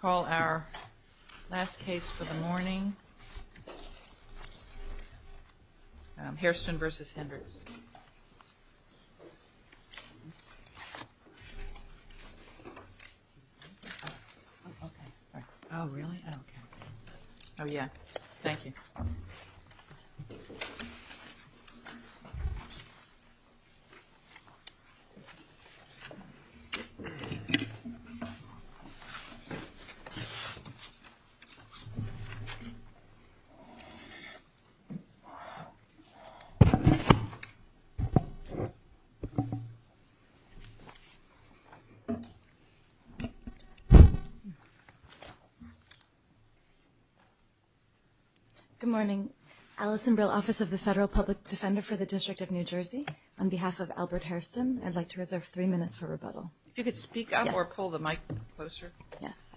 Call our last case for the morning, Hairston v. Hendricks. Oh, yeah. Thank you. Good morning. Alison Brill, Office of the Federal Public Defender for the District of New Jersey. On behalf of Albert Hairston, I'd like to reserve three minutes for rebuttal. If you could speak up or pull the mic closer. Yes.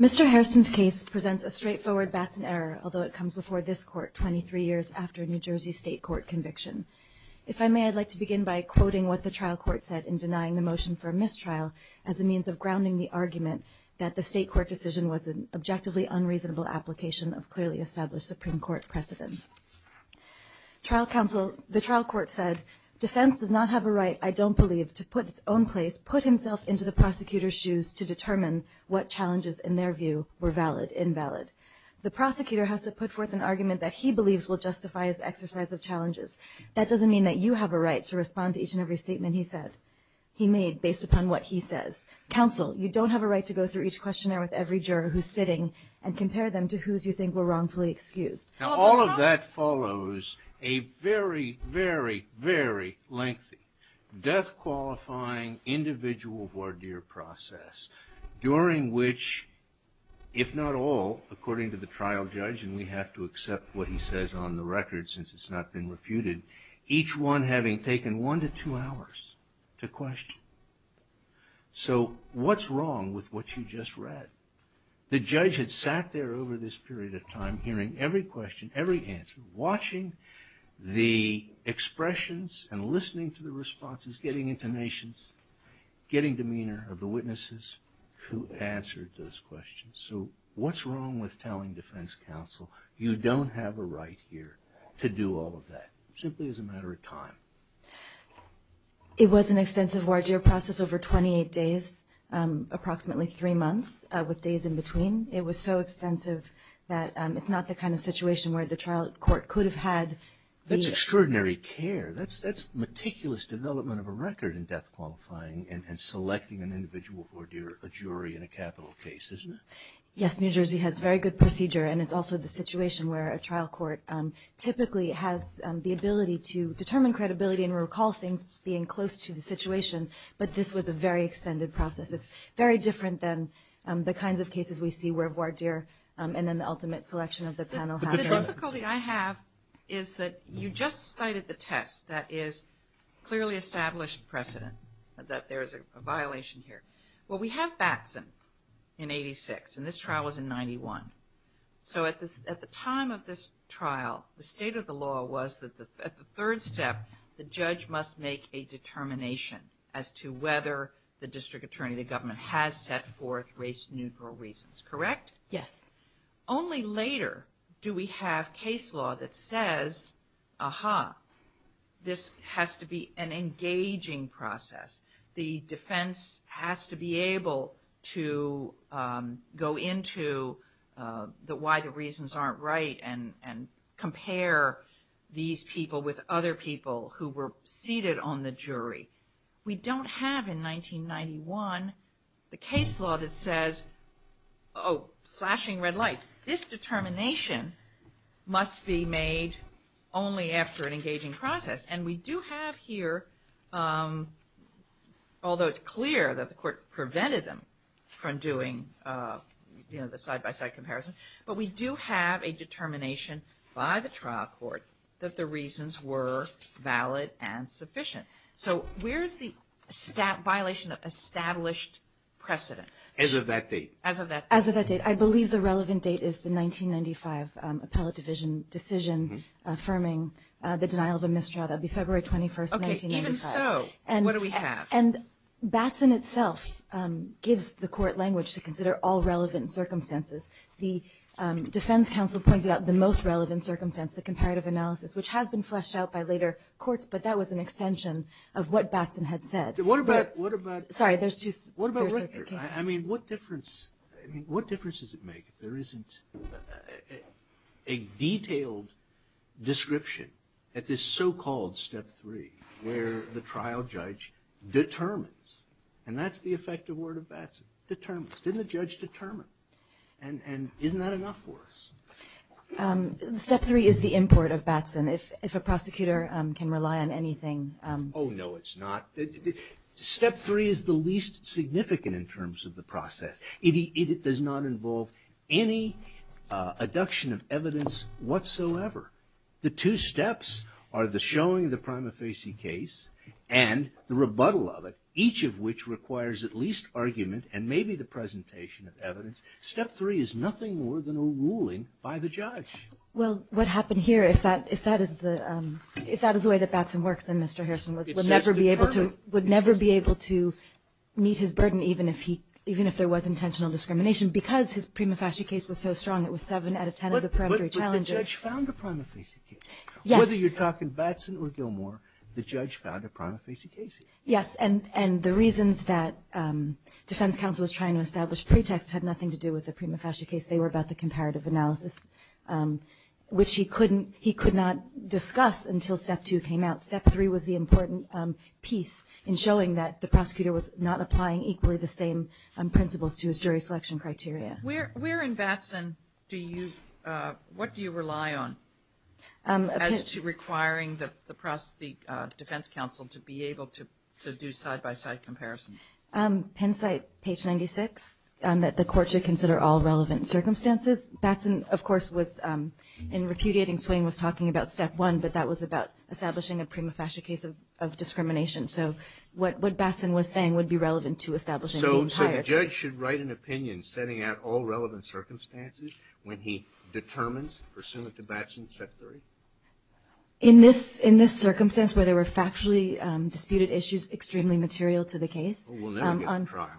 Mr. Hairston's case presents a straightforward Batson error, although it comes before this court 23 years after a New Jersey state court conviction. If I may, I'd like to begin by quoting what the trial court said in denying the motion for a mistrial as a means of grounding the argument that the state court decision was an objectively unreasonable application of clearly established Supreme Court precedent. The trial court said, defense does not have a right, I don't believe, to put its own place, put himself into the prosecutor's shoes to determine what challenges, in their view, were valid, invalid. The prosecutor has to put forth an argument that he believes will justify his exercise of challenges. That doesn't mean that you have a right to respond to each and every statement he said, he made, based upon what he says. Counsel, you don't have a right to go through each questionnaire with every juror who's sitting and compare them to whose you think were wrongfully excused. Now, all of that follows a very, very, very lengthy death-qualifying individual voir dire process during which, if not all, according to the trial judge, and we have to accept what he says on the record since it's not been refuted, each one having taken one to two hours to question. So what's wrong with what you just read? The judge had sat there over this period of time hearing every question, every answer, watching the expressions and listening to the responses, getting intonations, getting demeanor of the witnesses who answered those questions. So what's wrong with telling defense counsel you don't have a right here to do all of that, simply as a matter of time? It was an extensive voir dire process over 28 days, approximately three months, with days in between. It was so extensive that it's not the kind of situation where the trial court could have had the- That's extraordinary care. That's meticulous development of a record in death-qualifying and selecting an individual voir dire, a jury in a capital case, isn't it? Yes, New Jersey has very good procedure, and it's also the situation where a trial court typically has the ability to determine credibility and recall things being close to the situation. But this was a very extended process. It's very different than the kinds of cases we see where voir dire and then the ultimate selection of the panel have. The difficulty I have is that you just cited the test that is clearly established precedent that there is a violation here. Well, we have Batson in 86, and this trial was in 91. So at the time of this trial, the state of the law was that at the third step, the judge must make a determination as to whether the district attorney, the government, has set forth race-neutral reasons, correct? Yes. Only later do we have case law that says, ah-ha, this has to be an engaging process. The defense has to be able to go into why the reasons aren't right and compare these people with other people who were seated on the jury. We don't have in 1991 the case law that says, oh, flashing red lights. This determination must be made only after an engaging process. And we do have here, although it's clear that the court prevented them from doing the side-by-side comparison, but we do have a determination by the trial court that the reasons were valid and sufficient. So where is the violation of established precedent? As of that date. As of that date. I believe the relevant date is the 1995 appellate division decision affirming the denial of a misdraught. That would be February 21st, 1995. Okay. Even so, what do we have? And Batson itself gives the court language to consider all relevant circumstances. The defense counsel pointed out the most relevant circumstance, the comparative analysis, which has been fleshed out by later courts, but that was an extension of what Batson had said. What about record? I mean, what difference does it make if there isn't a detailed description at this so-called step three where the trial judge determines? And that's the effective word of Batson, determines. Didn't the judge determine? And isn't that enough for us? Step three is the import of Batson. If a prosecutor can rely on anything. Oh, no, it's not. Step three is the least significant in terms of the process. It does not involve any abduction of evidence whatsoever. The two steps are the showing of the prima facie case and the rebuttal of it, Step three is nothing more than a ruling by the judge. Well, what happened here, if that is the way that Batson works, then Mr. Harrison would never be able to meet his burden even if there was intentional discrimination because his prima facie case was so strong. It was seven out of ten of the peremptory challenges. But the judge found a prima facie case. Yes. Whether you're talking Batson or Gilmore, the judge found a prima facie case. Yes. And the reasons that defense counsel was trying to establish pretexts had nothing to do with the prima facie case, they were about the comparative analysis, which he could not discuss until step two came out. Step three was the important piece in showing that the prosecutor was not applying equally the same principles to his jury selection criteria. Where in Batson do you, what do you rely on as to requiring the defense counsel to be able to do side-by-side comparisons? Penn site, page 96, that the court should consider all relevant circumstances. Batson, of course, was in repudiating swing, was talking about step one, but that was about establishing a prima facie case of discrimination. So what Batson was saying would be relevant to establishing the entire. So the judge should write an opinion setting out all relevant circumstances when he determines pursuant to Batson's step three? In this circumstance where there were factually disputed issues, extremely material to the case. We'll never get to trial.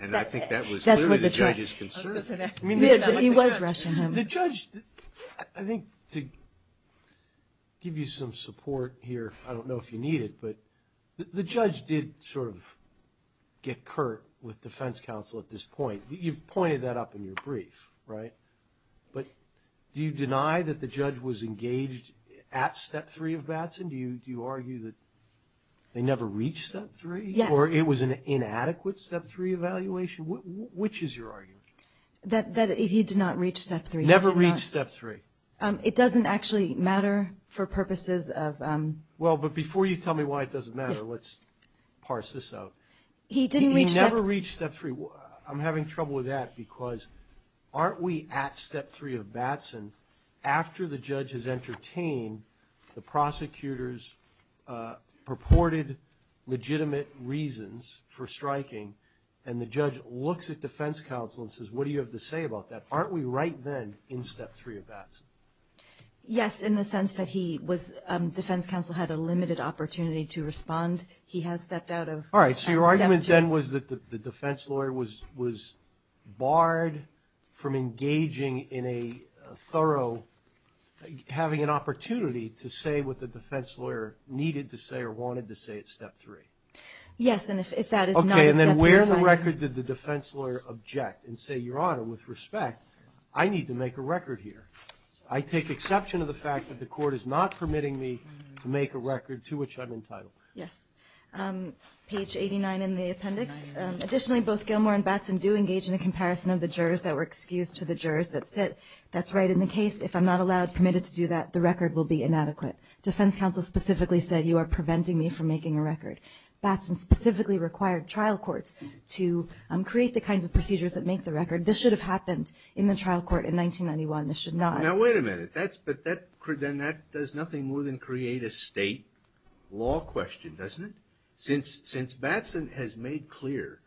And I think that was clearly the judge's concern. He was rushing him. The judge, I think to give you some support here, I don't know if you need it, but the judge did sort of get curt with defense counsel at this point. You've pointed that up in your brief, right? But do you deny that the judge was engaged at step three of Batson? Do you argue that they never reached step three? Yes. Or it was an inadequate step three evaluation? Which is your argument? That he did not reach step three. Never reached step three. It doesn't actually matter for purposes of. Well, but before you tell me why it doesn't matter, let's parse this out. He didn't reach step. He never reached step three. I'm having trouble with that because aren't we at step three of Batson after the judge has entertained the prosecutor's purported legitimate reasons for striking and the judge looks at defense counsel and says, what do you have to say about that? Aren't we right then in step three of Batson? Yes, in the sense that defense counsel had a limited opportunity to respond. He has stepped out of step two. All right, so your argument then was that the defense lawyer was barred from engaging in a thorough, having an opportunity to say what the defense lawyer needed to say or wanted to say at step three. Yes, and if that is not a step three. Okay, and then where in the record did the defense lawyer object and say, Your Honor, with respect, I need to make a record here. I take exception to the fact that the court is not permitting me to make a record to which I'm entitled. Yes, page 89 in the appendix. Additionally, both Gilmour and Batson do engage in a comparison of the jurors that were excused to the jurors that said that's right in the case. If I'm not allowed, permitted to do that, the record will be inadequate. Defense counsel specifically said you are preventing me from making a record. Batson specifically required trial courts to create the kinds of procedures that make the record. This should have happened in the trial court in 1991. This should not have. Now, wait a minute. Then that does nothing more than create a state law question, doesn't it? Since Batson has made clear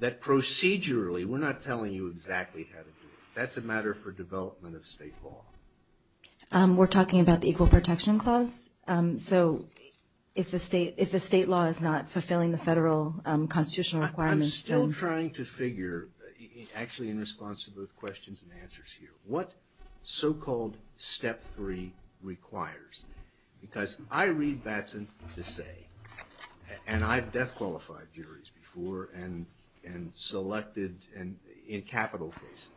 that procedurally we're not telling you exactly how to do it. That's a matter for development of state law. We're talking about the Equal Protection Clause. So if the state law is not fulfilling the federal constitutional requirements. I'm still trying to figure actually in response to both questions and answers here. What so-called step three requires? Because I read Batson to say, and I've death-qualified juries before and selected in capital cases.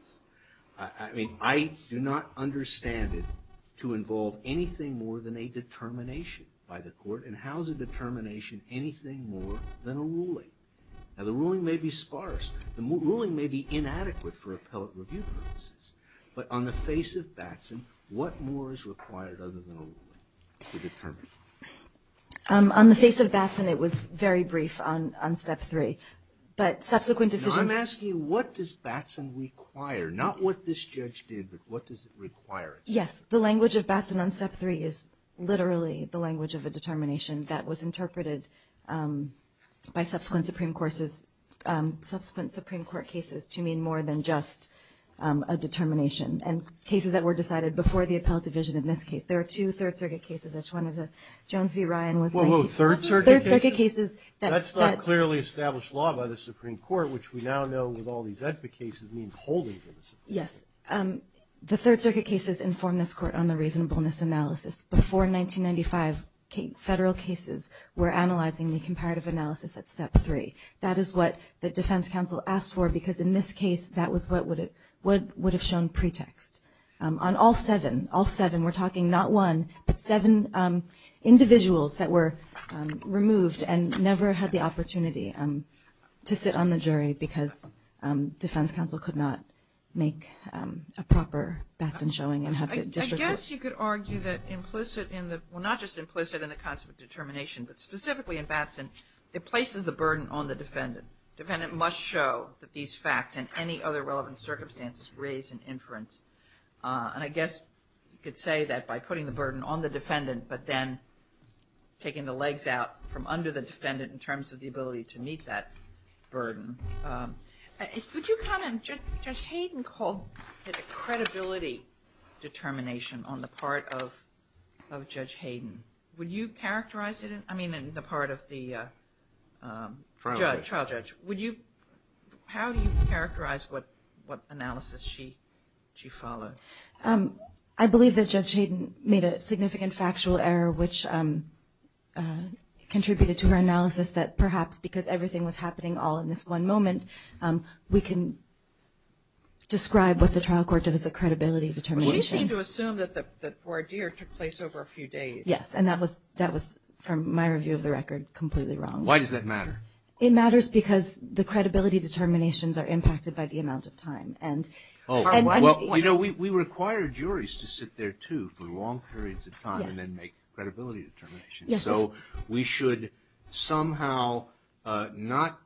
I mean, I do not understand it to involve anything more than a determination by the court. And how is a determination anything more than a ruling? Now, the ruling may be sparse. The ruling may be inadequate for appellate review purposes. But on the face of Batson, what more is required other than a ruling to determine? On the face of Batson, it was very brief on step three. But subsequent decisions. I'm asking what does Batson require? Not what this judge did, but what does it require? Yes. The language of Batson on step three is literally the language of a determination that was interpreted by subsequent Supreme Court cases to mean more than just a determination. And cases that were decided before the appellate division in this case. There are two Third Circuit cases. Jones v. Ryan was 19- Whoa, whoa. Third Circuit cases? Third Circuit cases that- That's not clearly established law by the Supreme Court, which we now know with all these EDPA cases means holdings of the Supreme Court. Yes. The Third Circuit cases inform this court on the reasonableness analysis. Before 1995, federal cases were analyzing the comparative analysis at step three. That is what the defense counsel asked for because in this case, that was what would have shown pretext. On all seven, all seven, we're talking not one, but seven individuals that were removed and never had the opportunity to sit on the jury because defense counsel could not make a proper Batson showing and have the district- I guess you could argue that implicit in the- well, not just implicit in the concept of determination, but specifically in Batson, it places the burden on the defendant. Defendant must show that these facts and any other relevant circumstances raise an inference. And I guess you could say that by putting the burden on the defendant, but then taking the legs out from under the defendant in terms of the ability to meet that burden. Would you comment? Judge Hayden called it a credibility determination on the part of Judge Hayden. Would you characterize it? I mean, in the part of the trial judge. How do you characterize what analysis she followed? I believe that Judge Hayden made a significant factual error, which contributed to her analysis that perhaps because everything was happening all in this one moment, we can describe what the trial court did as a credibility determination. Well, she seemed to assume that the voir dire took place over a few days. Yes, and that was, from my review of the record, completely wrong. Why does that matter? It matters because the credibility determinations are impacted by the amount of time. Well, you know, we require juries to sit there, too, for long periods of time and then make credibility determinations. Yes. So we should somehow not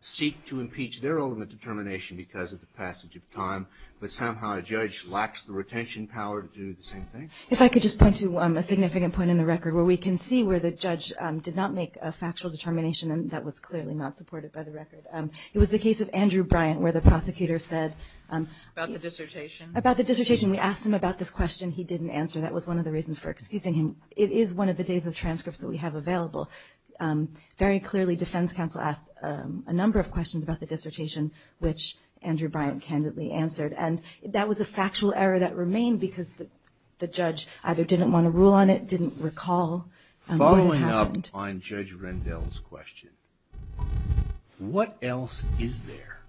seek to impeach their ultimate determination because of the passage of time, but somehow a judge lacks the retention power to do the same thing. If I could just point to a significant point in the record where we can see where the judge did not make a factual determination, and that was clearly not supported by the record. It was the case of Andrew Bryant, where the prosecutor said About the dissertation? About the dissertation. We asked him about this question. He didn't answer. That was one of the reasons for excusing him. It is one of the days of transcripts that we have available. Very clearly, defense counsel asked a number of questions about the dissertation, which Andrew Bryant candidly answered. And that was a factual error that remained because the judge either didn't want to rule on it, didn't recall what happened. Following up on Judge Rendell's question, what else is there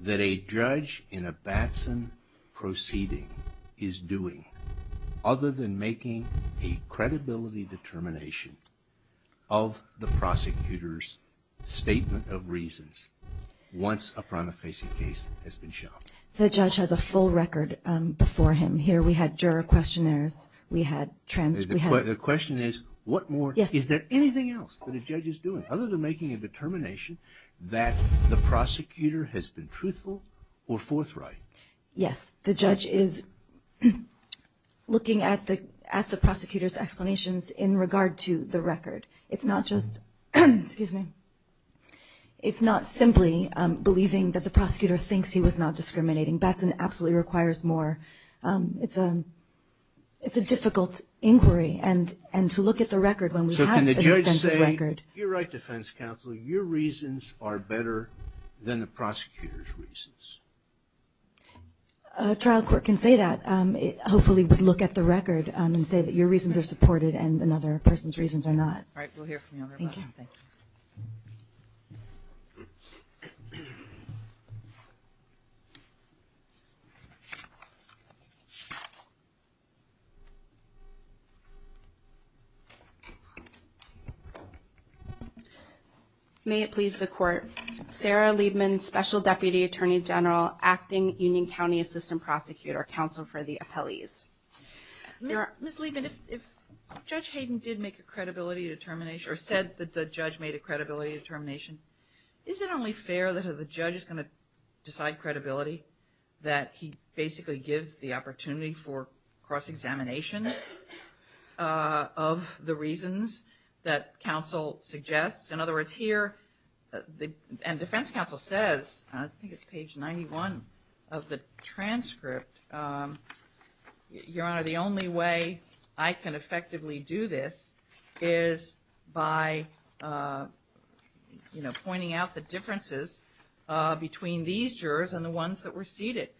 that a judge in a Batson proceeding is doing other than making a credibility determination of the prosecutor's statement of reasons once a prima facie case has been shown? The judge has a full record before him. Here we had juror questionnaires. We had transcripts. The question is, what more? Is there anything else that a judge is doing other than making a determination that the prosecutor has been truthful or forthright? Yes. The judge is looking at the prosecutor's explanations in regard to the record. It's not just, excuse me, it's not simply believing that the prosecutor thinks he was not discriminating. Batson absolutely requires more. It's a difficult inquiry. And to look at the record when we have an extensive record. You're right, defense counsel. Your reasons are better than the prosecutor's reasons. A trial court can say that, hopefully would look at the record and say that your reasons are supported and another person's reasons are not. All right. We'll hear from you. Thank you. May it please the court. Sarah Liebman, Special Deputy Attorney General, acting Union County Assistant Prosecutor, counsel for the appellees. Ms. Liebman, if Judge Hayden did make a credibility determination, or said that the judge made a credibility determination, is it only fair that the judge is going to decide credibility, that he basically give the opportunity for cross-examination of the reasons that counsel suggests? In other words, here, and defense counsel says, I think it's page 91 of the transcript, your honor, the only way I can effectively do this is by, you know, pointing out the differences between these jurors and the ones that were seated.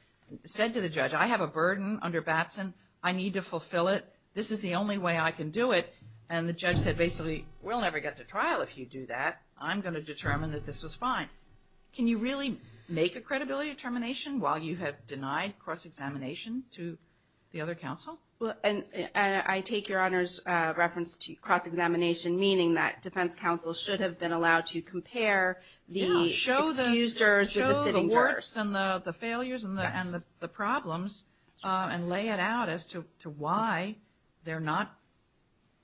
Said to the judge, I have a burden under Batson. I need to fulfill it. This is the only way I can do it. And the judge said, basically, we'll never get to trial if you do that. I'm going to determine that this is fine. Can you really make a credibility determination while you have denied cross-examination to the other counsel? Well, I take your honor's reference to cross-examination, meaning that defense counsel should have been allowed to compare the excused jurors with the sitting jurors. Show the works and the failures and the problems and lay it out as to why they're not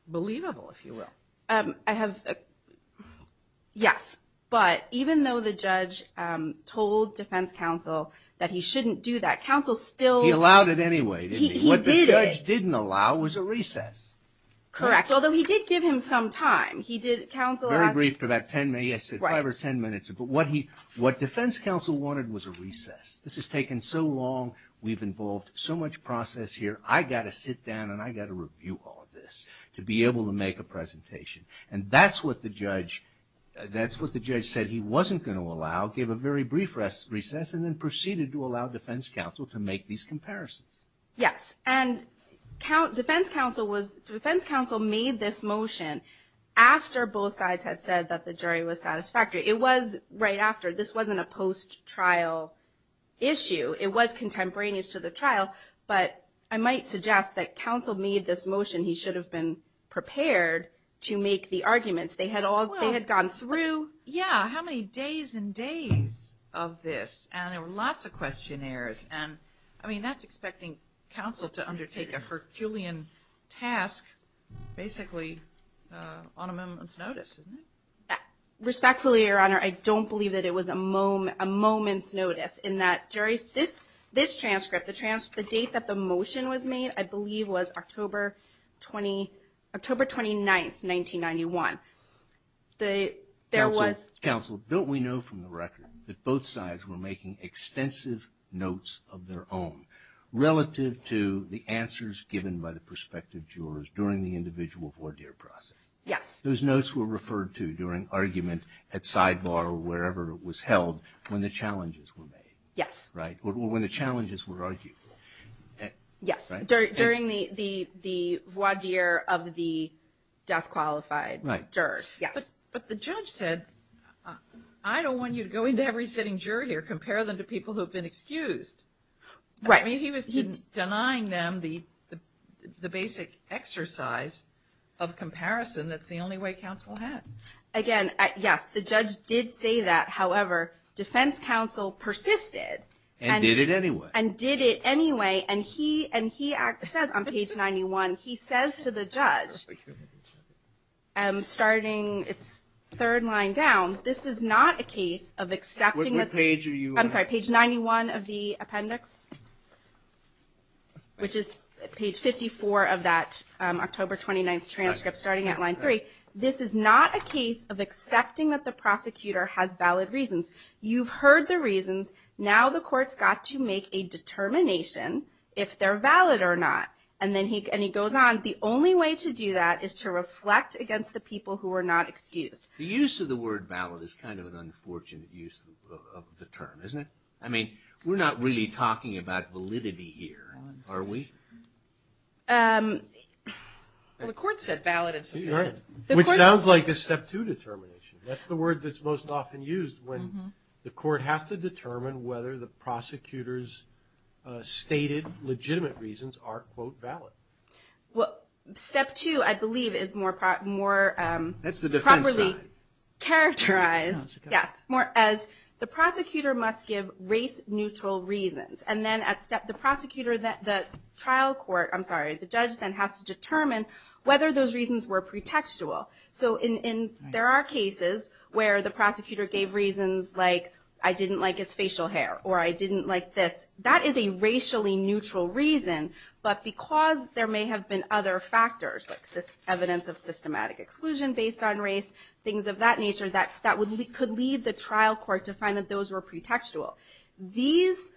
believable, if you will. I have – yes. But even though the judge told defense counsel that he shouldn't do that, counsel still – He allowed it anyway, didn't he? He did. What the judge didn't allow was a recess. Correct. Although he did give him some time. He did – counsel asked – Very brief, about ten minutes, five or ten minutes. But what defense counsel wanted was a recess. This has taken so long. We've involved so much process here. I've got to sit down and I've got to review all of this to be able to make a presentation. And that's what the judge – that's what the judge said he wasn't going to allow, gave a very brief recess, and then proceeded to allow defense counsel to make these comparisons. Yes. And defense counsel was – defense counsel made this motion after both sides had said that the jury was satisfactory. It was right after. This wasn't a post-trial issue. It was contemporaneous to the trial. But I might suggest that counsel made this motion. He should have been prepared to make the arguments. They had all – they had gone through. Yeah. How many days and days of this? And there were lots of questionnaires. And, I mean, that's expecting counsel to undertake a Herculean task, basically, on a moment's notice, isn't it? Respectfully, Your Honor, I don't believe that it was a moment's notice, in that this transcript, the date that the motion was made, I believe was October 29th, 1991. There was – Counsel, don't we know from the record that both sides were making extensive notes of their own relative to the answers given by the prospective jurors during the individual voir dire process? Yes. Those notes were referred to during argument at sidebar or wherever it was made. Yes. Right. Or when the challenges were argued. Yes. During the voir dire of the death-qualified jurors. Right. Yes. But the judge said, I don't want you to go into every sitting juror here, compare them to people who have been excused. Right. I mean, he was denying them the basic exercise of comparison. That's the only way counsel had. Again, yes, the judge did say that. However, defense counsel persisted. And did it anyway. And did it anyway. And he says on page 91, he says to the judge, starting its third line down, this is not a case of accepting the – What page are you on? I'm sorry, page 91 of the appendix, which is page 54 of that October 29th transcript, starting at line three. This is not a case of accepting that the prosecutor has valid reasons. You've heard the reasons. Now the court's got to make a determination if they're valid or not. And then he goes on, the only way to do that is to reflect against the people who are not excused. The use of the word valid is kind of an unfortunate use of the term, isn't it? I mean, we're not really talking about validity here, are we? Well, the court said valid. Which sounds like a step two determination. That's the word that's most often used when the court has to determine whether the prosecutor's stated legitimate reasons are, quote, valid. Well, step two, I believe, is more properly characterized. That's the defense side. Yes, more as the prosecutor must give race-neutral reasons. And then the trial court, I'm sorry, the judge then has to determine whether those reasons were pretextual. So there are cases where the prosecutor gave reasons like, I didn't like his facial hair, or I didn't like this. That is a racially neutral reason, but because there may have been other factors, like evidence of systematic exclusion based on race, things of that nature, that could lead the trial court to find that those were pretextual. These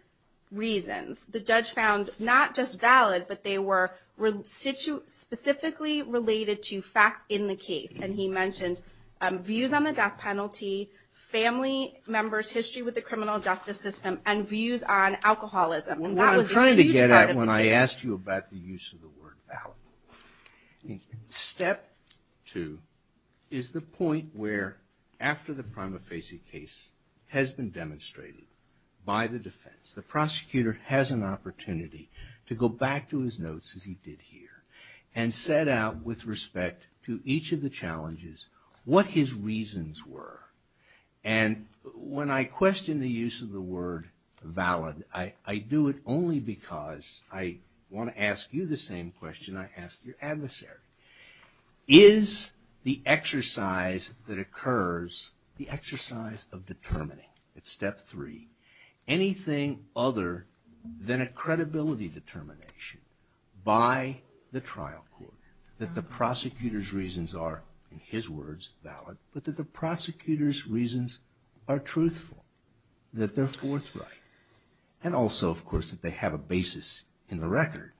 reasons, the judge found, not just valid, but they were specifically related to facts in the case. And he mentioned views on the death penalty, family members' history with the criminal justice system, and views on alcoholism. And that was a huge part of the case. Well, what I'm trying to get at when I asked you about the use of the word valid, step two is the point where, after the prima facie case has been demonstrated by the defense, the prosecutor has an opportunity to go back to his notes, as he did here, and set out with respect to each of the challenges what his reasons were. And when I question the use of the word valid, I do it only because I want to ask you the same question I ask your adversary. Is the exercise that occurs, the exercise of determining, it's step three, anything other than a credibility determination by the trial court, that the prosecutor's reasons are, in his words, valid, but that the prosecutor's reasons are truthful, that they're forthright. And also, of course, that they have a basis in the record.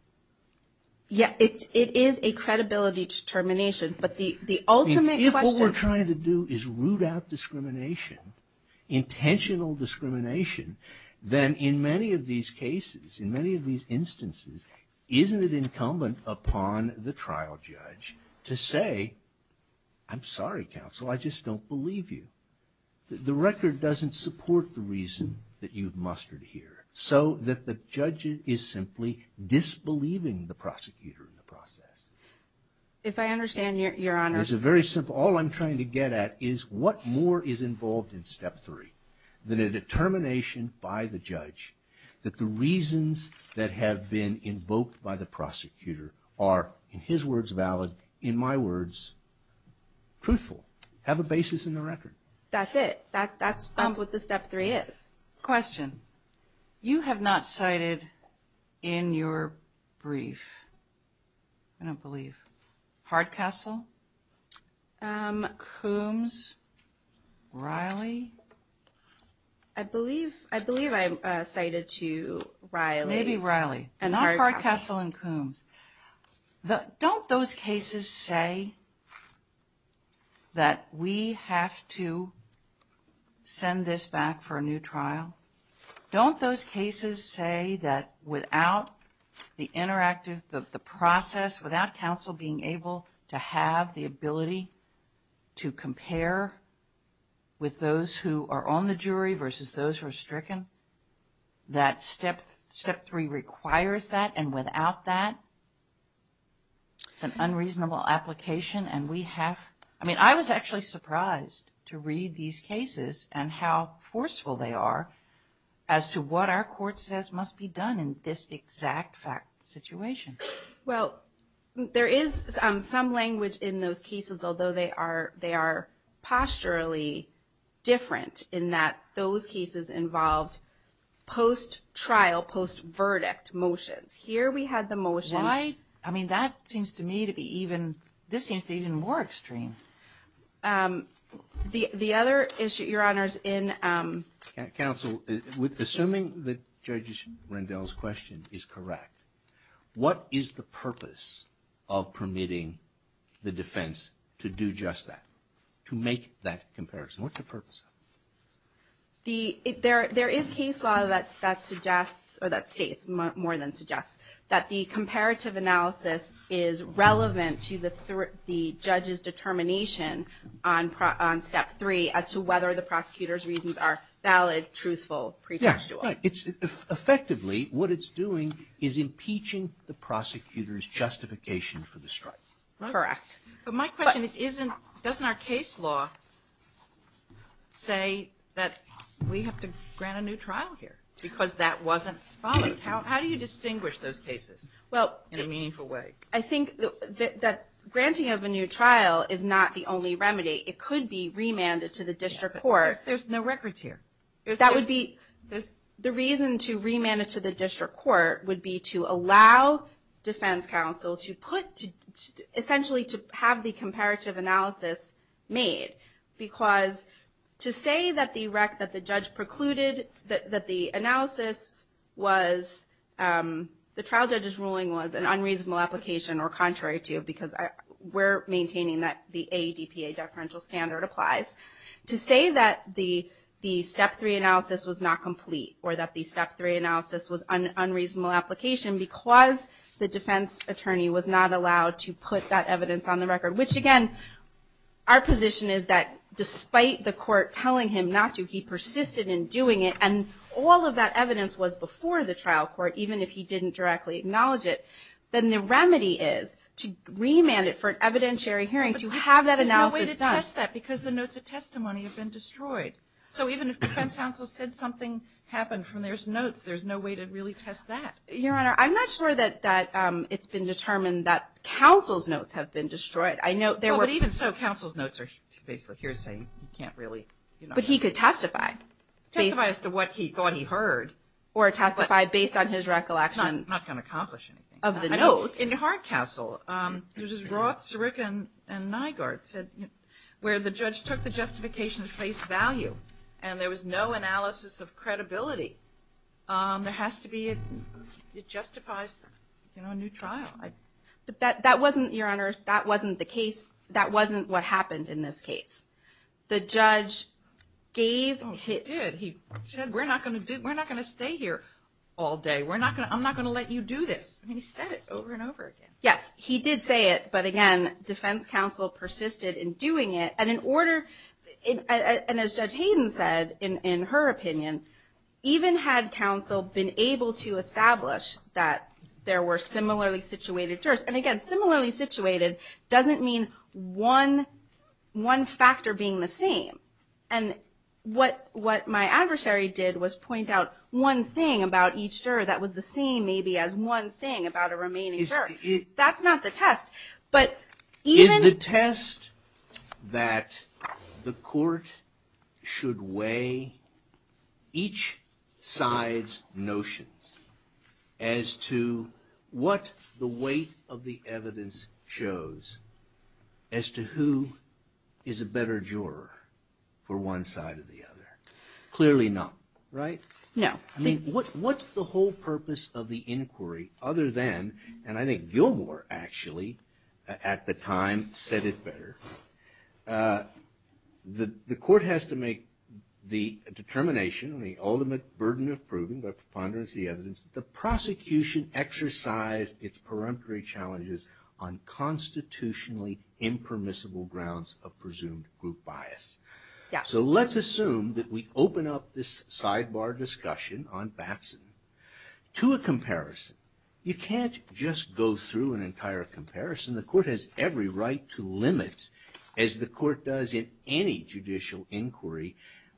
Yeah, it is a credibility determination. But the ultimate question- If what we're trying to do is root out discrimination, intentional discrimination, then in many of these cases, in many of these instances, isn't it incumbent upon the trial judge to say, I'm sorry, counsel, I just don't believe you. The record doesn't support the reason that you've mustered here. So that the judge is simply disbelieving the prosecutor in the process. If I understand your honor- It's very simple. All I'm trying to get at is what more is involved in step three than a determination by the judge that the reasons that have been invoked by the prosecutor are, in his words, valid, in my words, truthful, have a basis in the record. That's it. That's what the step three is. Question. You have not cited in your brief, I don't believe, Hardcastle? Coombs? Riley? I believe I cited to Riley. Maybe Riley. And not Hardcastle and Coombs. Don't those cases say that we have to send this back for a new trial? Don't those cases say that without the interactive, the process, without counsel being able to have the ability to compare with those who are on the jury versus those who are stricken, that step three requires that? And without that, it's an unreasonable application and we have-I mean, I was actually surprised to read these cases and how forceful they are as to what our court says must be done in this exact situation. Well, there is some language in those cases, although they are posturally different in that those cases involved post-trial, post-verdict motions. Here we had the motion- Why? I mean, that seems to me to be even-this seems to be even more extreme. The other issue, Your Honors, in- Counsel, assuming that Judge Rendell's question is correct, what is the purpose of permitting the defense to do just that, to make that comparison? What's the purpose of it? There is case law that suggests, or that states more than suggests, that the comparative analysis is relevant to the judge's determination on step three as to whether the prosecutor's reasons are valid, truthful, pretextual. Right. Effectively, what it's doing is impeaching the prosecutor's justification for the strike. Correct. But my question is, isn't-doesn't our case law say that we have to grant a new trial here because that wasn't valid? How do you distinguish those cases in a meaningful way? Well, I think that granting of a new trial is not the only remedy. It could be remanded to the district court. There's no records here. The reason to remand it to the district court would be to allow defense counsel to put-essentially to have the comparative analysis made. Because to say that the judge precluded that the analysis was-the trial judge's ruling was an unreasonable application or contrary to, because we're maintaining that the ADPA deferential standard applies. To say that the step three analysis was not complete or that the step three analysis was an unreasonable application because the defense attorney was not allowed to put that evidence on the record, which again our position is that despite the court telling him not to, he persisted in doing it and all of that evidence was before the trial court, even if he didn't directly acknowledge it. Then the remedy is to remand it for an evidentiary hearing to have that analysis done. And we test that because the notes of testimony have been destroyed. So even if defense counsel said something happened from those notes, there's no way to really test that. Your Honor, I'm not sure that it's been determined that counsel's notes have been destroyed. I know there were- But even so, counsel's notes are basically here saying you can't really- But he could testify. Testify as to what he thought he heard. It's not going to accomplish anything. Of the notes. In Hart Castle, which is Roth, Sirica, and Nygaard, where the judge took the justification to face value and there was no analysis of credibility, there has to be a- it justifies a new trial. But that wasn't, Your Honor, that wasn't the case. That wasn't what happened in this case. The judge gave- He did. He said we're not going to stay here all day. I'm not going to let you do this. He said it over and over again. Yes, he did say it. But, again, defense counsel persisted in doing it. And in order- and as Judge Hayden said in her opinion, even had counsel been able to establish that there were similarly situated jurors- and, again, similarly situated doesn't mean one factor being the same. And what my adversary did was point out one thing about each juror that was the same maybe as one thing about a remaining juror. That's not the test. But even- Is the test that the court should weigh each side's notions as to what the weight of the evidence shows as to who is a better juror for one side or the other? Clearly not, right? No. I mean, what's the whole purpose of the inquiry other than- and I think Gilmore, actually, at the time said it better- the court has to make the determination and the ultimate burden of proving by preponderance of the evidence that the prosecution exercised its peremptory challenges on constitutionally impermissible grounds of presumed group bias. Yes. So let's assume that we open up this sidebar discussion on Batson to a comparison. You can't just go through an entire comparison. The court has every right to limit, as the court does in any judicial inquiry,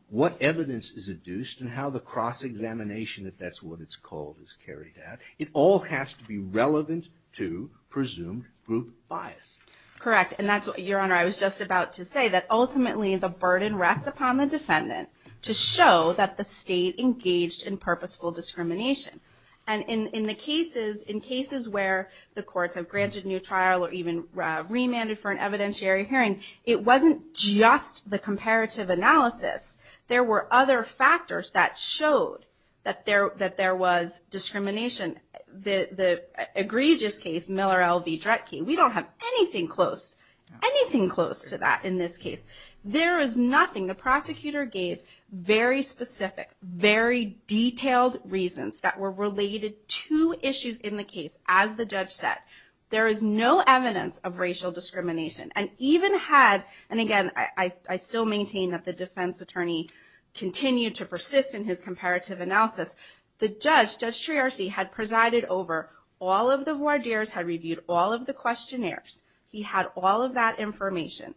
what evidence is adduced and how the cross-examination, if that's what it's called, is carried out. It all has to be relevant to presumed group bias. Correct. And that's what, Your Honor, I was just about to say, that ultimately the burden rests upon the defendant to show that the state engaged in purposeful discrimination. And in the cases, in cases where the courts have granted new trial or even remanded for an evidentiary hearing, it wasn't just the comparative analysis. There were other factors that showed that there was discrimination. The egregious case, Miller L. V. Dretke, we don't have anything close, anything close to that in this case. There is nothing the prosecutor gave very specific, very detailed reasons that were related to issues in the case. As the judge said, there is no evidence of racial discrimination. And even had, and again, I still maintain that the defense attorney continued to persist in his comparative analysis. The judge, Judge Triarcy, had presided over all of the voir dires, had reviewed all of the questionnaires. He had all of that information.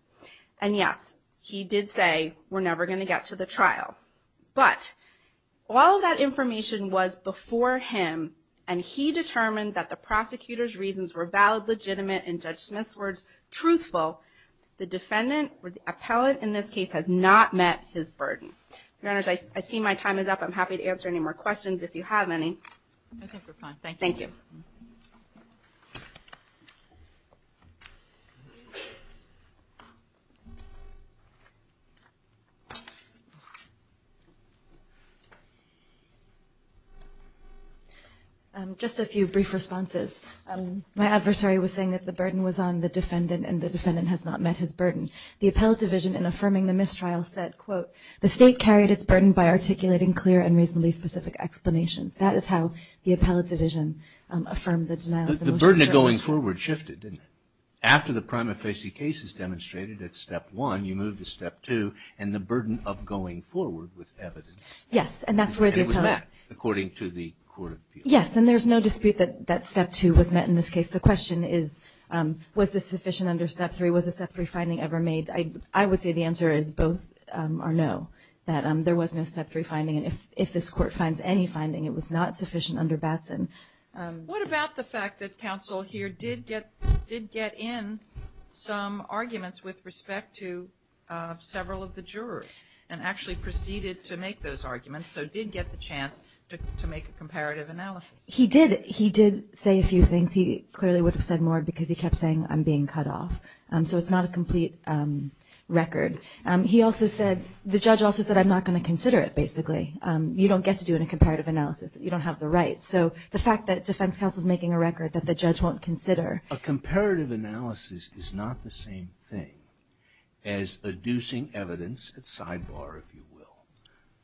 And yes, he did say, we're never going to get to the trial. But all of that information was before him, and he determined that the prosecutor's reasons were valid, legitimate, and Judge Smith's words, truthful. The defendant or the appellate in this case has not met his burden. Your Honor, I see my time is up. I'm happy to answer any more questions if you have any. Okay, we're fine. Thank you. Thank you. Just a few brief responses. My adversary was saying that the burden was on the defendant and the defendant has not met his burden. The appellate division in affirming the mistrial said, quote, the state carried its burden by articulating clear and reasonably specific explanations. That is how the appellate division affirmed the denial of the motion. The burden of going forward shifted, didn't it? After the prima facie case is demonstrated at step one, you move to step two and the burden of going forward with evidence. Yes, and that's where the appellate. And it was met, according to the court of appeals. Yes, and there's no dispute that step two was met in this case. The question is, was this sufficient under step three? Was a step three finding ever made? I would say the answer is both are no, that there was no step three finding. And if this court finds any finding, it was not sufficient under Batson. What about the fact that counsel here did get in some arguments with respect to several of the jurors and actually proceeded to make those arguments, so did get the chance to make a comparative analysis? He did. He did say a few things. He clearly would have said more because he kept saying, I'm being cut off. So it's not a complete record. He also said, the judge also said, I'm not going to consider it, basically. You don't get to do a comparative analysis. You don't have the right. So the fact that defense counsel is making a record that the judge won't consider. A comparative analysis is not the same thing as adducing evidence at sidebar, if you will,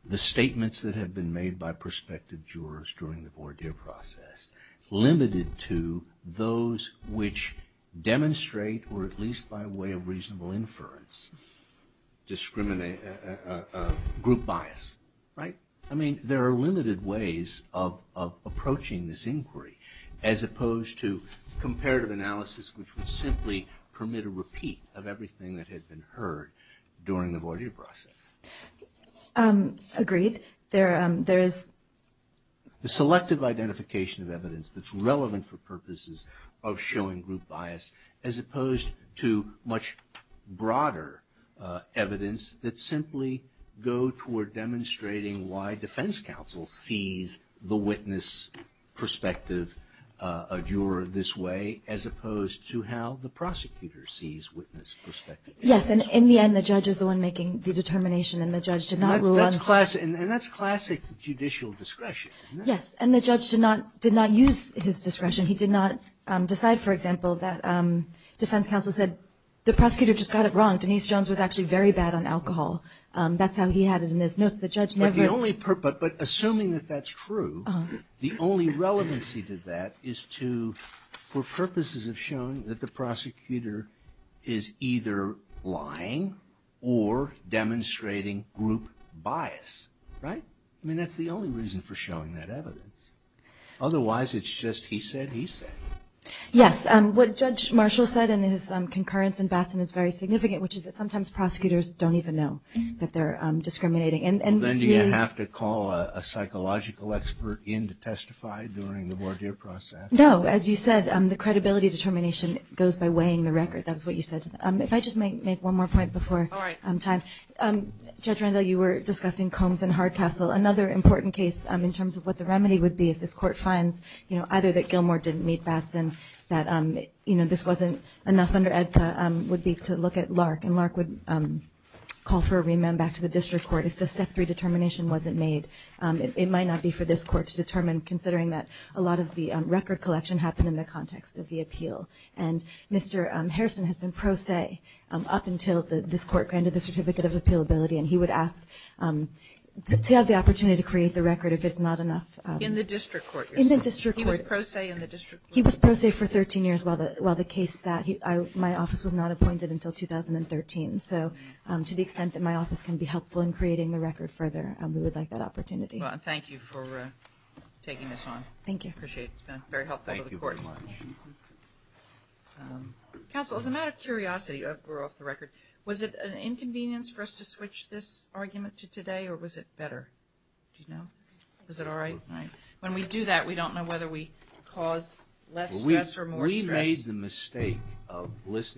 the statements that have been made by prospective jurors during the at least by way of reasonable inference, group bias. Right? I mean, there are limited ways of approaching this inquiry as opposed to comparative analysis which would simply permit a repeat of everything that had been heard during the voir dire process. Agreed. There is. The selective identification of evidence that's relevant for purposes of showing group bias as opposed to much broader evidence that simply go toward demonstrating why defense counsel sees the witness perspective of a juror this way as opposed to how the prosecutor sees witness perspective. Yes. And in the end, the judge is the one making the determination. And the judge did not rule on. And that's classic judicial discretion. Yes. And the judge did not use his discretion. He did not decide, for example, that defense counsel said, the prosecutor just got it wrong. Denise Jones was actually very bad on alcohol. That's how he had it in his notes. The judge never. But assuming that that's true, the only relevancy to that is to, for purposes of showing that the prosecutor is either lying or demonstrating group bias. Right? I mean, that's the only reason for showing that evidence. Otherwise, it's just, he said, he said. Yes. What Judge Marshall said in his concurrence in Batson is very significant, which is that sometimes prosecutors don't even know that they're discriminating. Well, then do you have to call a psychological expert in to testify during the voir dire process? No. As you said, the credibility determination goes by weighing the record. That's what you said. If I just make one more point before time. All right. Judge Rendell, you were discussing Combs and Hardcastle. Another important case in terms of what the remedy would be, if this court finds either that Gilmore didn't meet Batson, that this wasn't enough under EDPA, would be to look at Lark. And Lark would call for a remand back to the district court if the step three determination wasn't made. It might not be for this court to determine, considering that a lot of the record collection happened in the context of the appeal. And Mr. Harrison has been pro se up until this court granted the certificate of appealability. And he would ask to have the opportunity to create the record if it's not enough. In the district court? In the district court. He was pro se in the district court? He was pro se for 13 years while the case sat. My office was not appointed until 2013. So to the extent that my office can be helpful in creating the record further, we would like that opportunity. Well, thank you for taking this on. Thank you. I appreciate it. It's been very helpful to the court. Thank you. Counsel, as a matter of curiosity, we're off the record. Was it an inconvenience for us to switch this argument to today or was it better? Do you know? Is it all right? When we do that, we don't know whether we cause less stress or more stress. We made the mistake of listening.